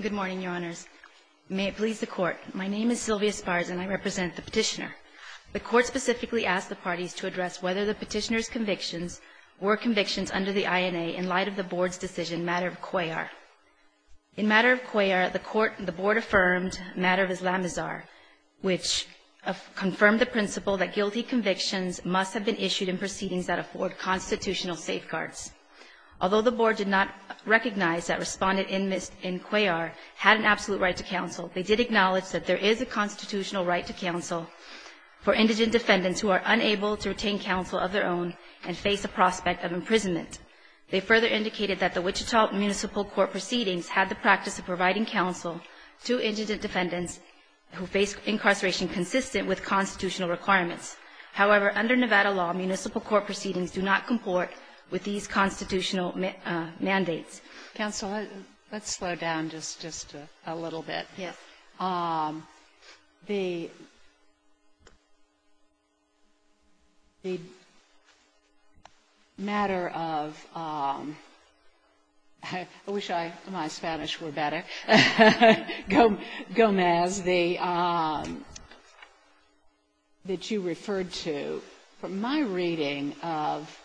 Good morning, Your Honors. May it please the Court, my name is Sylvia Spars and I represent the Petitioner. The Court specifically asked the parties to address whether the Petitioner's convictions were convictions under the INA in light of the Board's decision, Matter of Cuellar. In Matter of Cuellar, the Court, the Board affirmed Matter of Islamazar, which confirmed the principle that guilty convictions must have been issued in proceedings that afford constitutional safeguards. Although the Board did not recognize that respondents in Cuellar had an absolute right to counsel, they did acknowledge that there is a constitutional right to counsel for indigent defendants who are unable to retain counsel of their own and face the prospect of imprisonment. They further indicated that the Wichita Municipal Court proceedings had the practice of providing counsel to indigent defendants who face incarceration consistent with constitutional requirements. However, under Nevada law, municipal court proceedings do not comport with these constitutional mandates. Counsel, let's slow down just a little bit. Yes. The matter of — I wish my Spanish were better — Gomez, the — that you referred to, from my reading of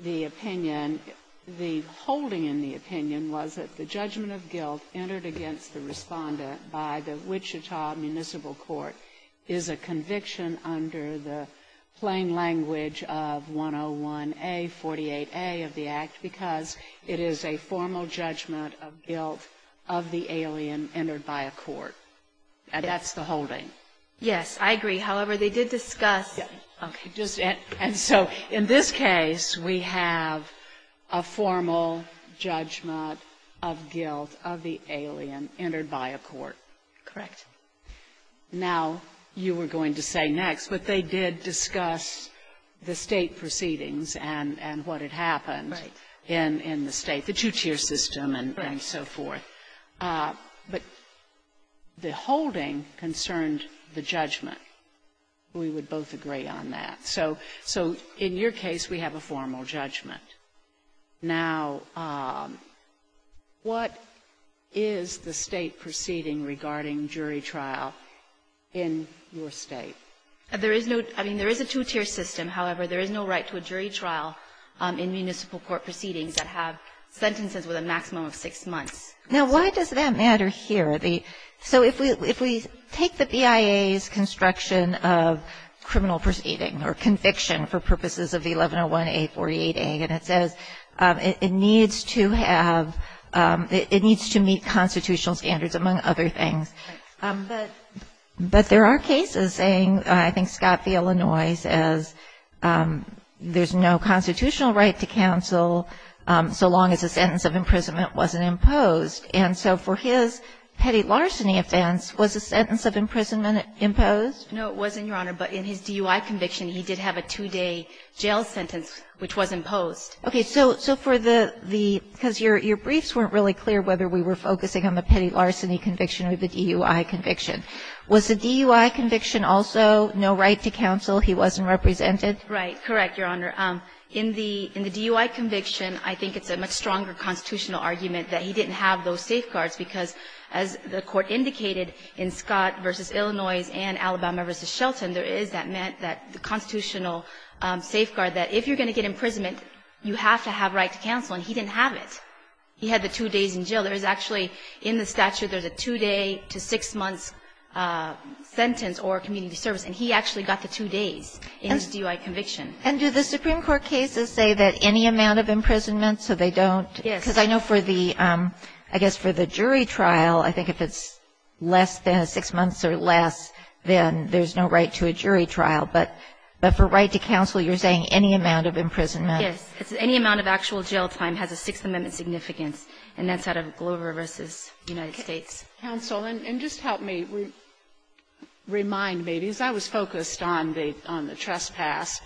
the opinion, the holding in the opinion was that the judgment of guilt entered against the respondent by the Wichita Municipal Court is a conviction under the plain language of 101A, 48A of the Act because it is a formal judgment of guilt of the alien entered by a court. And that's the holding. Yes, I agree. However, they did discuss — Okay. And so in this case, we have a formal judgment of guilt of the alien entered by a court. Correct. Now, you were going to say next, but they did discuss the State proceedings and what had happened in the State, the two-tier system and so forth. Right. But the holding concerned the judgment. We would both agree on that. So in your case, we have a formal judgment. Now, what is the State proceeding regarding jury trial in your State? There is no — I mean, there is a two-tier system. However, there is no right to a jury trial in municipal court proceedings that have sentences with a maximum of six months. Now, why does that matter here? So if we take the BIA's construction of criminal proceeding or conviction for purposes of the 1101A, 48A, and it says it needs to have — it needs to meet constitutional standards, among other things. But there are cases saying — I think Scott v. Illinois says there's no constitutional right to counsel so long as a sentence of imprisonment wasn't imposed. And so for his petty larceny offense, was a sentence of imprisonment imposed? No, it wasn't, Your Honor. But in his DUI conviction, he did have a two-day jail sentence which was imposed. Okay. So for the — because your briefs weren't really clear whether we were focusing on the petty larceny conviction or the DUI conviction. Was the DUI conviction also no right to counsel? He wasn't represented? Right. Correct, Your Honor. In the — in the DUI conviction, I think it's a much stronger constitutional argument that he didn't have those safeguards, because as the Court indicated in Scott v. Illinois and Alabama v. Shelton, there is that — that constitutional safeguard that if you're going to get imprisonment, you have to have right to counsel. And he didn't have it. He had the two days in jail. There is actually — in the statute, there's a two-day to six-month sentence or community service. And he actually got the two days in his DUI conviction. And do the Supreme Court cases say that any amount of imprisonment, so they don't? Yes. Because I know for the — I guess for the jury trial, I think if it's less than six months or less, then there's no right to a jury trial. But for right to counsel, you're saying any amount of imprisonment. Yes. Any amount of actual jail time has a Sixth Amendment significance, and that's out of Glover v. United States. Counsel, and just help me. Remind me, because I was focused on the — on the trespass,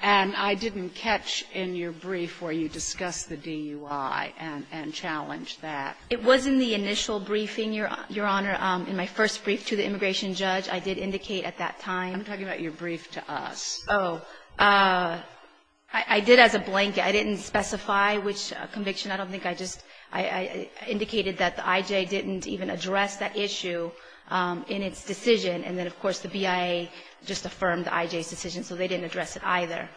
and I didn't catch in your brief where you discussed the DUI and — and challenged that. It was in the initial briefing, Your Honor, in my first brief to the immigration judge. I did indicate at that time. I'm talking about your brief to us. Oh. I did as a blanket. I didn't specify which conviction. I don't think I just — I indicated that the I.J. didn't even address that issue in its decision. And then, of course, the BIA just affirmed the I.J.'s decision, so they didn't address it either.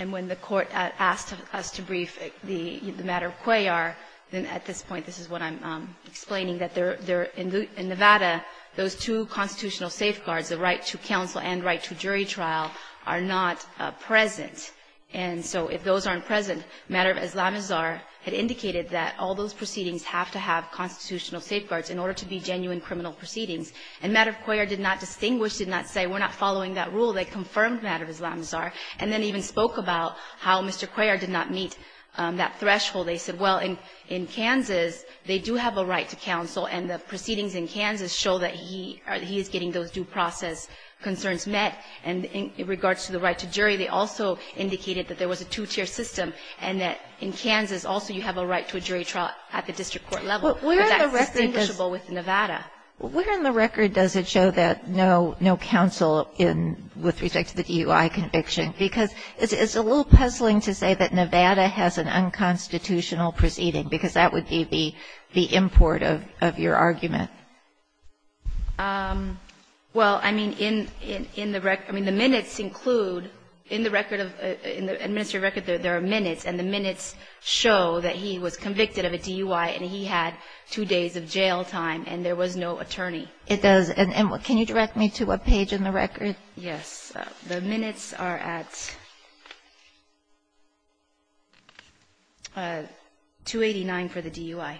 And when the court asked us to brief the matter of Cuellar, then at this point this is what I'm explaining, that they're — in Nevada, those two constitutional safeguards, the right to counsel and right to jury trial, are not present. And so if those aren't present, the matter of Islamazar had indicated that all those proceedings have to have constitutional safeguards in order to be genuine criminal proceedings. And the matter of Cuellar did not distinguish, did not say, we're not following that rule. They confirmed the matter of Islamazar, and then even spoke about how Mr. Cuellar did not meet that threshold. They said, well, in Kansas, they do have a right to counsel, and the proceedings in Kansas show that he is getting those due process concerns met. And in regards to the right to jury, they also indicated that there was a two-tier system, and that in Kansas also you have a right to a jury trial at the district court level. But that's distinguishable with Nevada. Kagan. Where in the record does it show that no counsel in — with respect to the DUI conviction? Because it's a little puzzling to say that Nevada has an unconstitutional proceeding, because that would be the import of your argument. Well, I mean, in the record — I mean, the minutes include — in the record of — in the administrative record, there are minutes, and the minutes show that he was convicted of a DUI, and he had two days of jail time, and there was no attorney. It does. And can you direct me to a page in the record? Yes. The minutes are at 289 for the DUI. Okay.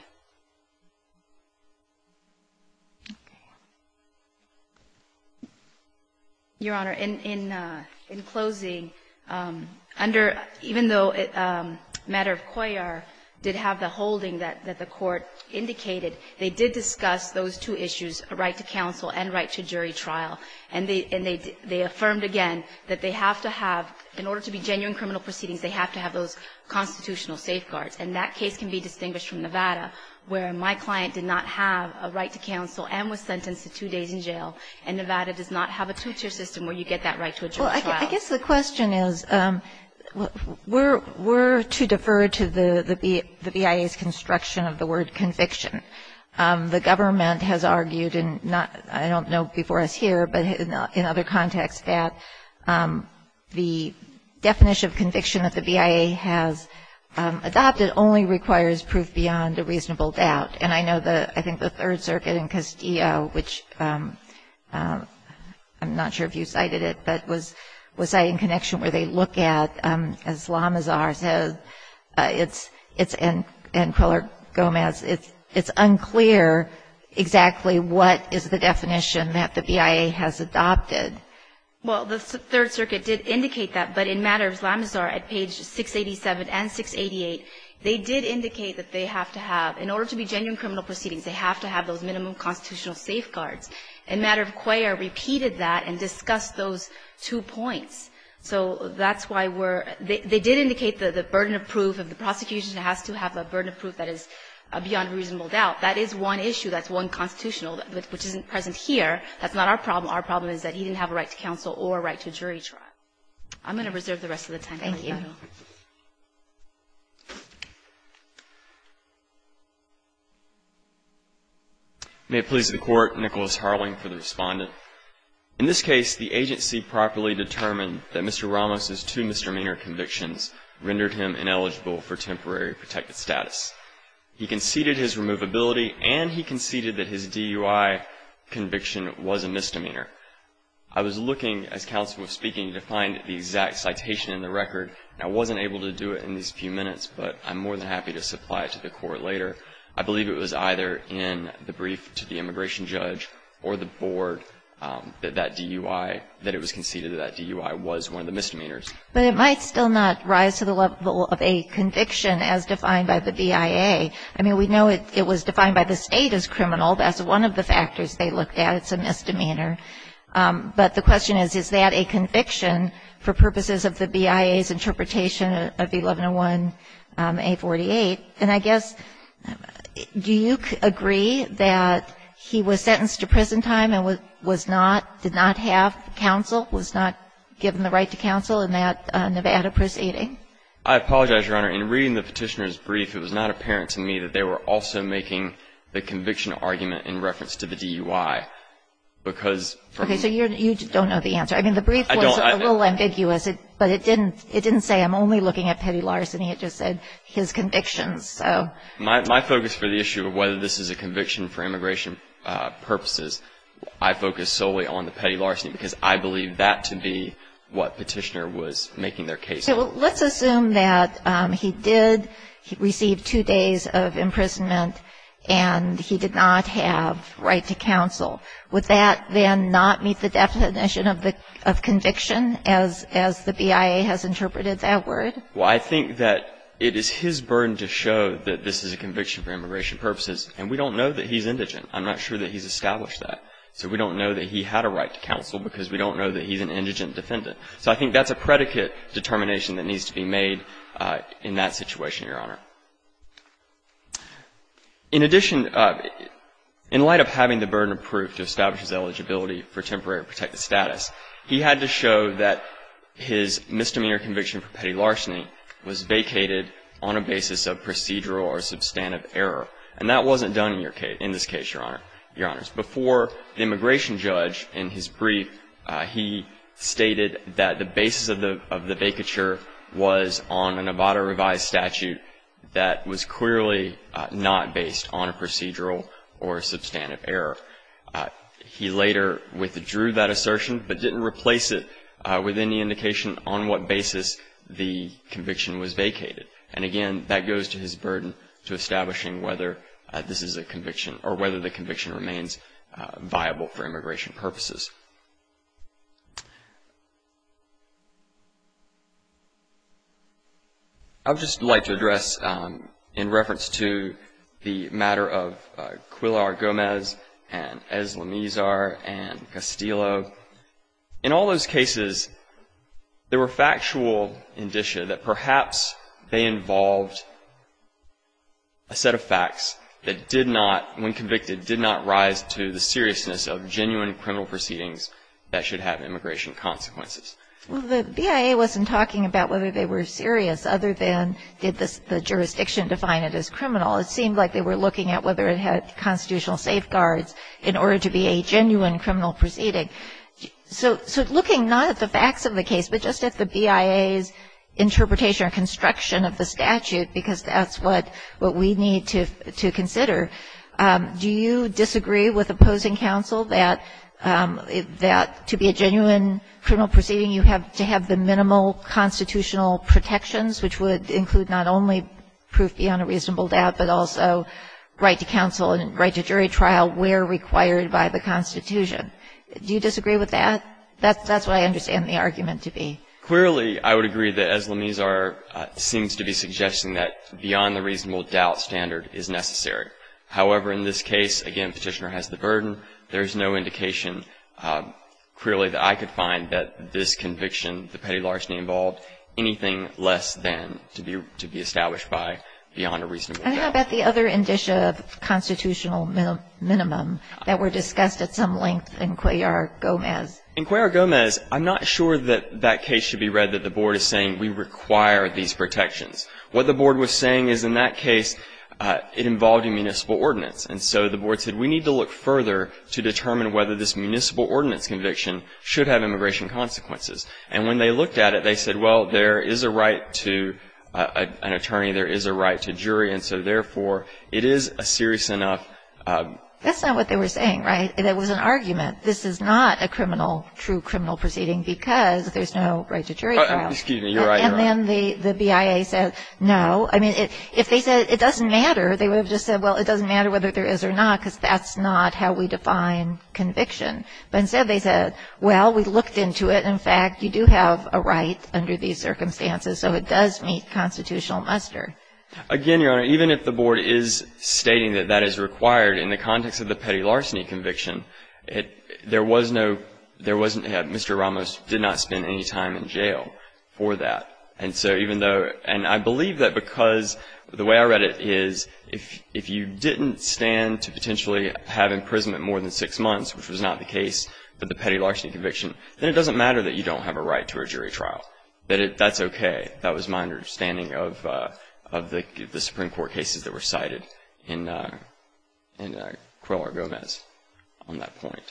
Your Honor, in closing, under — even though a matter of COIAR did have the holding that the Court indicated, they did discuss those two issues, a right to counsel and right to jury trial. And they affirmed again that they have to have — in order to be genuine criminal proceedings, they have to have those constitutional safeguards. And that case can be distinguished from Nevada. Where my client did not have a right to counsel and was sentenced to two days in jail, and Nevada does not have a two-tier system where you get that right to a jury trial. Well, I guess the question is, we're too deferred to the BIA's construction of the word conviction. The government has argued, and I don't know before us here, but in other contexts, that the definition of conviction that the BIA has adopted only requires proof beyond a reasonable doubt. And I know the — I think the Third Circuit in Castillo, which I'm not sure if you cited it, but was citing connection where they look at, as La Mazar says, it's — and Queller-Gomez, it's unclear exactly what is the definition that the BIA has adopted. Well, the Third Circuit did indicate that, but in matters of La Mazar, at page 687 and 688, they did indicate that they have to have — in order to be genuine criminal proceedings, they have to have those minimum constitutional safeguards. And matter of queer repeated that and discussed those two points. So that's why we're — they did indicate the burden of proof of the prosecution has to have a burden of proof that is beyond reasonable doubt. That is one issue. That's one constitutional, which isn't present here. That's not our problem. Our problem is that he didn't have a right to counsel or a right to jury trial. I'm going to reserve the rest of the time. Thank you. May it please the Court, Nicholas Harling for the Respondent. In this case, the agency properly determined that Mr. Ramos's two misdemeanor convictions rendered him ineligible for temporary protected status. He conceded his removability and he conceded that his DUI conviction was a misdemeanor. I was looking as counsel was speaking to find the exact citation in the record. I wasn't able to do it in these few minutes, but I'm more than happy to supply it to the Court later. I believe it was either in the brief to the immigration judge or the board that that DUI — that it was conceded that that DUI was one of the misdemeanors. But it might still not rise to the level of a conviction as defined by the BIA. I mean, we know it was defined by the State as criminal. That's one of the factors they looked at. It's a misdemeanor. But the question is, is that a conviction for purposes of the BIA's interpretation of 1101A48? And I guess, do you agree that he was sentenced to prison time and was not — did not have counsel, was not given the right to counsel in that Nevada proceeding? I apologize, Your Honor. In reading the Petitioner's brief, it was not apparent to me that they were also making the conviction argument in reference to the DUI because — Okay, so you don't know the answer. I mean, the brief was a little ambiguous, but it didn't say, I'm only looking at petty larceny. It just said his convictions, so — My focus for the issue of whether this is a conviction for immigration purposes, I focus solely on the petty larceny because I believe that to be what Petitioner was making their case for. Okay. Well, let's assume that he did receive two days of imprisonment and he did not have right to counsel. Would that then not meet the definition of conviction as the BIA has interpreted that word? Well, I think that it is his burden to show that this is a conviction for immigration purposes. And we don't know that he's indigent. I'm not sure that he's established that. So we don't know that he had a right to counsel because we don't know that he's an indigent defendant. So I think that's a predicate determination that needs to be made in that situation, Your Honor. In addition, in light of having the burden of proof to establish his eligibility for temporary protected status, he had to show that his misdemeanor conviction for petty larceny was vacated on a basis of procedural or substantive error. And that wasn't done in this case, Your Honor. Your Honors, before the immigration judge in his brief, he stated that the basis of the vacature was on an ABADA revised statute that was clearly not based on a procedural or substantive error. He later withdrew that assertion but didn't replace it with any indication on what basis the conviction was vacated. And again, that goes to his burden to establishing whether this is a conviction or whether the conviction remains viable for immigration purposes. I would just like to address, in reference to the matter of Quilar Gomez and Eslamizar and Castillo, in all those cases, there were factual indicia that perhaps they involved a set of facts that did not, when convicted, did not rise to the seriousness of genuine criminal proceedings that should have immigration consequences. Well, the BIA wasn't talking about whether they were serious other than did the jurisdiction define it as criminal. It seemed like they were looking at whether it had constitutional safeguards in order to be a genuine criminal proceeding. So looking not at the facts of the case but just at the BIA's interpretation or construction of the statute, because that's what we need to consider, do you disagree with opposing counsel that to be a genuine criminal proceeding you have to have the minimal constitutional protections, which would include not only proof beyond a reasonable doubt but also right to counsel and right to jury trial where required by the Constitution? Do you disagree with that? That's what I understand the argument to be. Clearly, I would agree that Eslamizar seems to be suggesting that beyond the reasonable doubt standard is necessary. However, in this case, again, Petitioner has the burden. There's no indication clearly that I could find that this conviction, the petty larceny involved, anything less than to be established by beyond a reasonable doubt. And how about the other indicia of constitutional minimum that were discussed at some length in Cuellar-Gomez? In Cuellar-Gomez, I'm not sure that that case should be read that the Board is saying we require these protections. What the Board was saying is in that case it involved a municipal ordinance. And so the Board said we need to look further to determine whether this municipal ordinance conviction should have immigration consequences. And when they looked at it, they said, well, there is a right to an attorney. There is a right to jury. And so, therefore, it is a serious enough ---- That's not what they were saying, right? That was an argument. This is not a criminal, true criminal proceeding because there's no right to jury trial. Excuse me, you're right. And then the BIA said no. I mean, if they said it doesn't matter, they would have just said, well, it doesn't matter whether there is or not because that's not how we define conviction. But instead they said, well, we looked into it. In fact, you do have a right under these circumstances. So it does meet constitutional muster. Again, Your Honor, even if the Board is stating that that is required in the context of the petty larceny conviction, there was no ---- there wasn't ---- Mr. Ramos did not spend any time in jail for that. And so even though ---- and I believe that because the way I read it is if you didn't stand to potentially have imprisonment more than six months, which was not the case for the petty larceny conviction, then it doesn't matter that you don't have a right to a jury trial. That's okay. That was my understanding of the Supreme Court cases that were cited in Cuellar-Gomez on that point.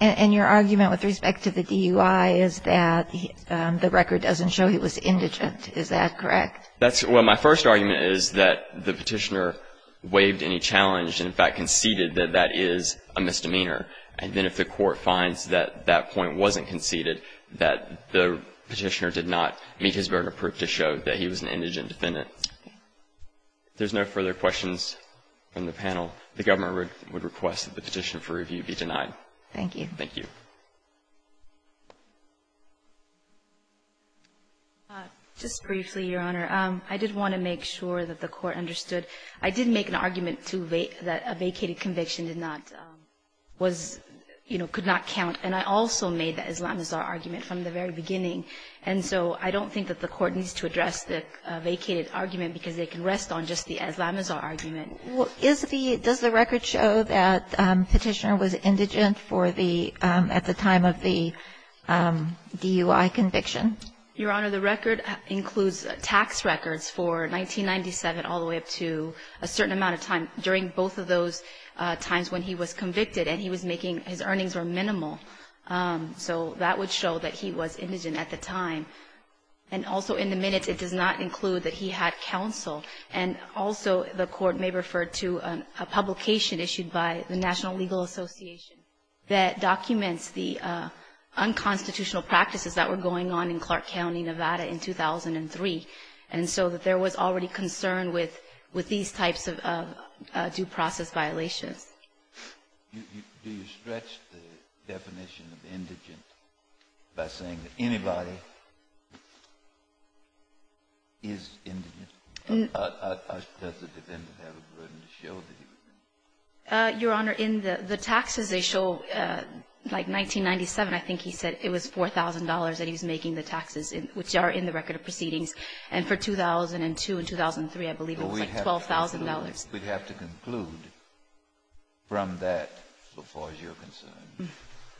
And your argument with respect to the DUI is that the record doesn't show he was indigent. Is that correct? That's ---- well, my first argument is that the Petitioner waived any challenge and, in fact, conceded that that is a misdemeanor. And then if the Court finds that that point wasn't conceded, that the Petitioner did not meet his burden of proof to show that he was an indigent defendant. Okay. If there's no further questions from the panel, the Government would request that the petition for review be denied. Thank you. Thank you. Just briefly, Your Honor. I did want to make sure that the Court understood. I did make an argument that a vacated conviction did not was, you know, could not count. And I also made that Islamazar argument from the very beginning. And so I don't think that the Court needs to address the vacated argument because it can rest on just the Islamazar argument. Is the ---- does the record show that Petitioner was indigent for the ---- at the time of the DUI conviction? Your Honor, the record includes tax records for 1997 all the way up to a certain amount of time during both of those times when he was convicted and he was making ---- his earnings were minimal. So that would show that he was indigent at the time. And also in the minutes, it does not include that he had counsel. And also the Court may refer to a publication issued by the National Legal Association that documents the unconstitutional practices that were going on in Clark County, Nevada, in 2003. And so there was already concern with these types of due process violations. Do you stretch the definition of indigent by saying that anybody is indigent? Does the defendant have a burden to show that he was indigent? Your Honor, in the taxes they show, like, 1997, I think he said it was $4,000 that he was making, the taxes, which are in the record of proceedings. And for 2002 and 2003, I believe it was like $12,000. We'd have to conclude from that, as far as you're concerned,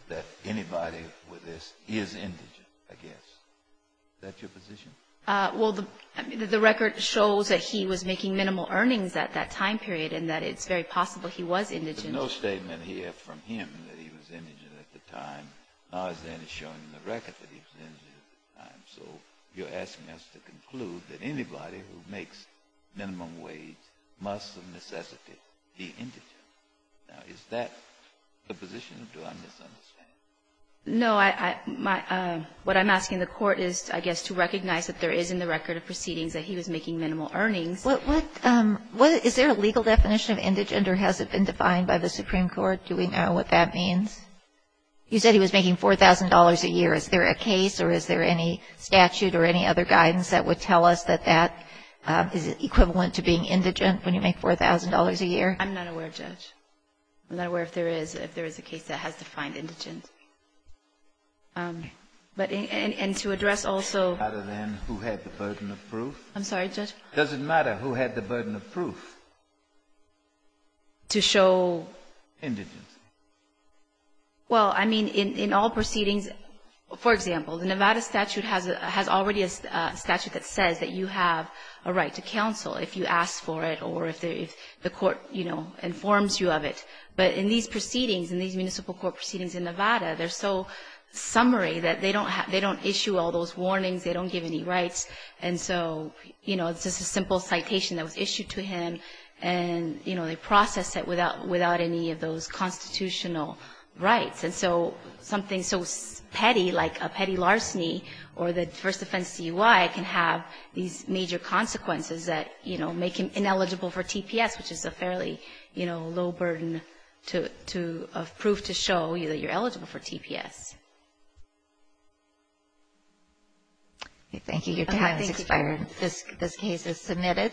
that anybody with this is indigent, I guess. Is that your position? Well, the record shows that he was making minimal earnings at that time period and that it's very possible he was indigent. There's no statement here from him that he was indigent at the time, nor is there any showing in the record that he was indigent at the time. So you're asking us to conclude that anybody who makes minimum wage must of necessity be indigent. Now, is that the position, or do I misunderstand? No, what I'm asking the Court is, I guess, to recognize that there is in the record of proceedings that he was making minimal earnings. Is there a legal definition of indigent, or has it been defined by the Supreme Court? Do we know what that means? You said he was making $4,000 a year. Is there a case, or is there any statute or any other guidance that would tell us that that is equivalent to being indigent when you make $4,000 a year? I'm not aware, Judge. I'm not aware if there is a case that has defined indigent. And to address also — Other than who had the burden of proof? I'm sorry, Judge? Does it matter who had the burden of proof? To show — Indigent. Well, I mean, in all proceedings, for example, the Nevada statute has already a statute that says that you have a right to counsel if you ask for it or if the Court, you know, informs you of it. But in these proceedings, in these municipal court proceedings in Nevada, they're so summary that they don't issue all those warnings. They don't give any rights. And so, you know, it's just a simple citation that was issued to him, and, you know, they process it without any of those constitutional rights. And so something so petty, like a petty larceny or the first offense DUI, can have these major consequences that, you know, make him ineligible for TPS, which is a fairly, you know, low burden of proof to show that you're eligible for TPS. Thank you. Your time has expired. This case is submitted.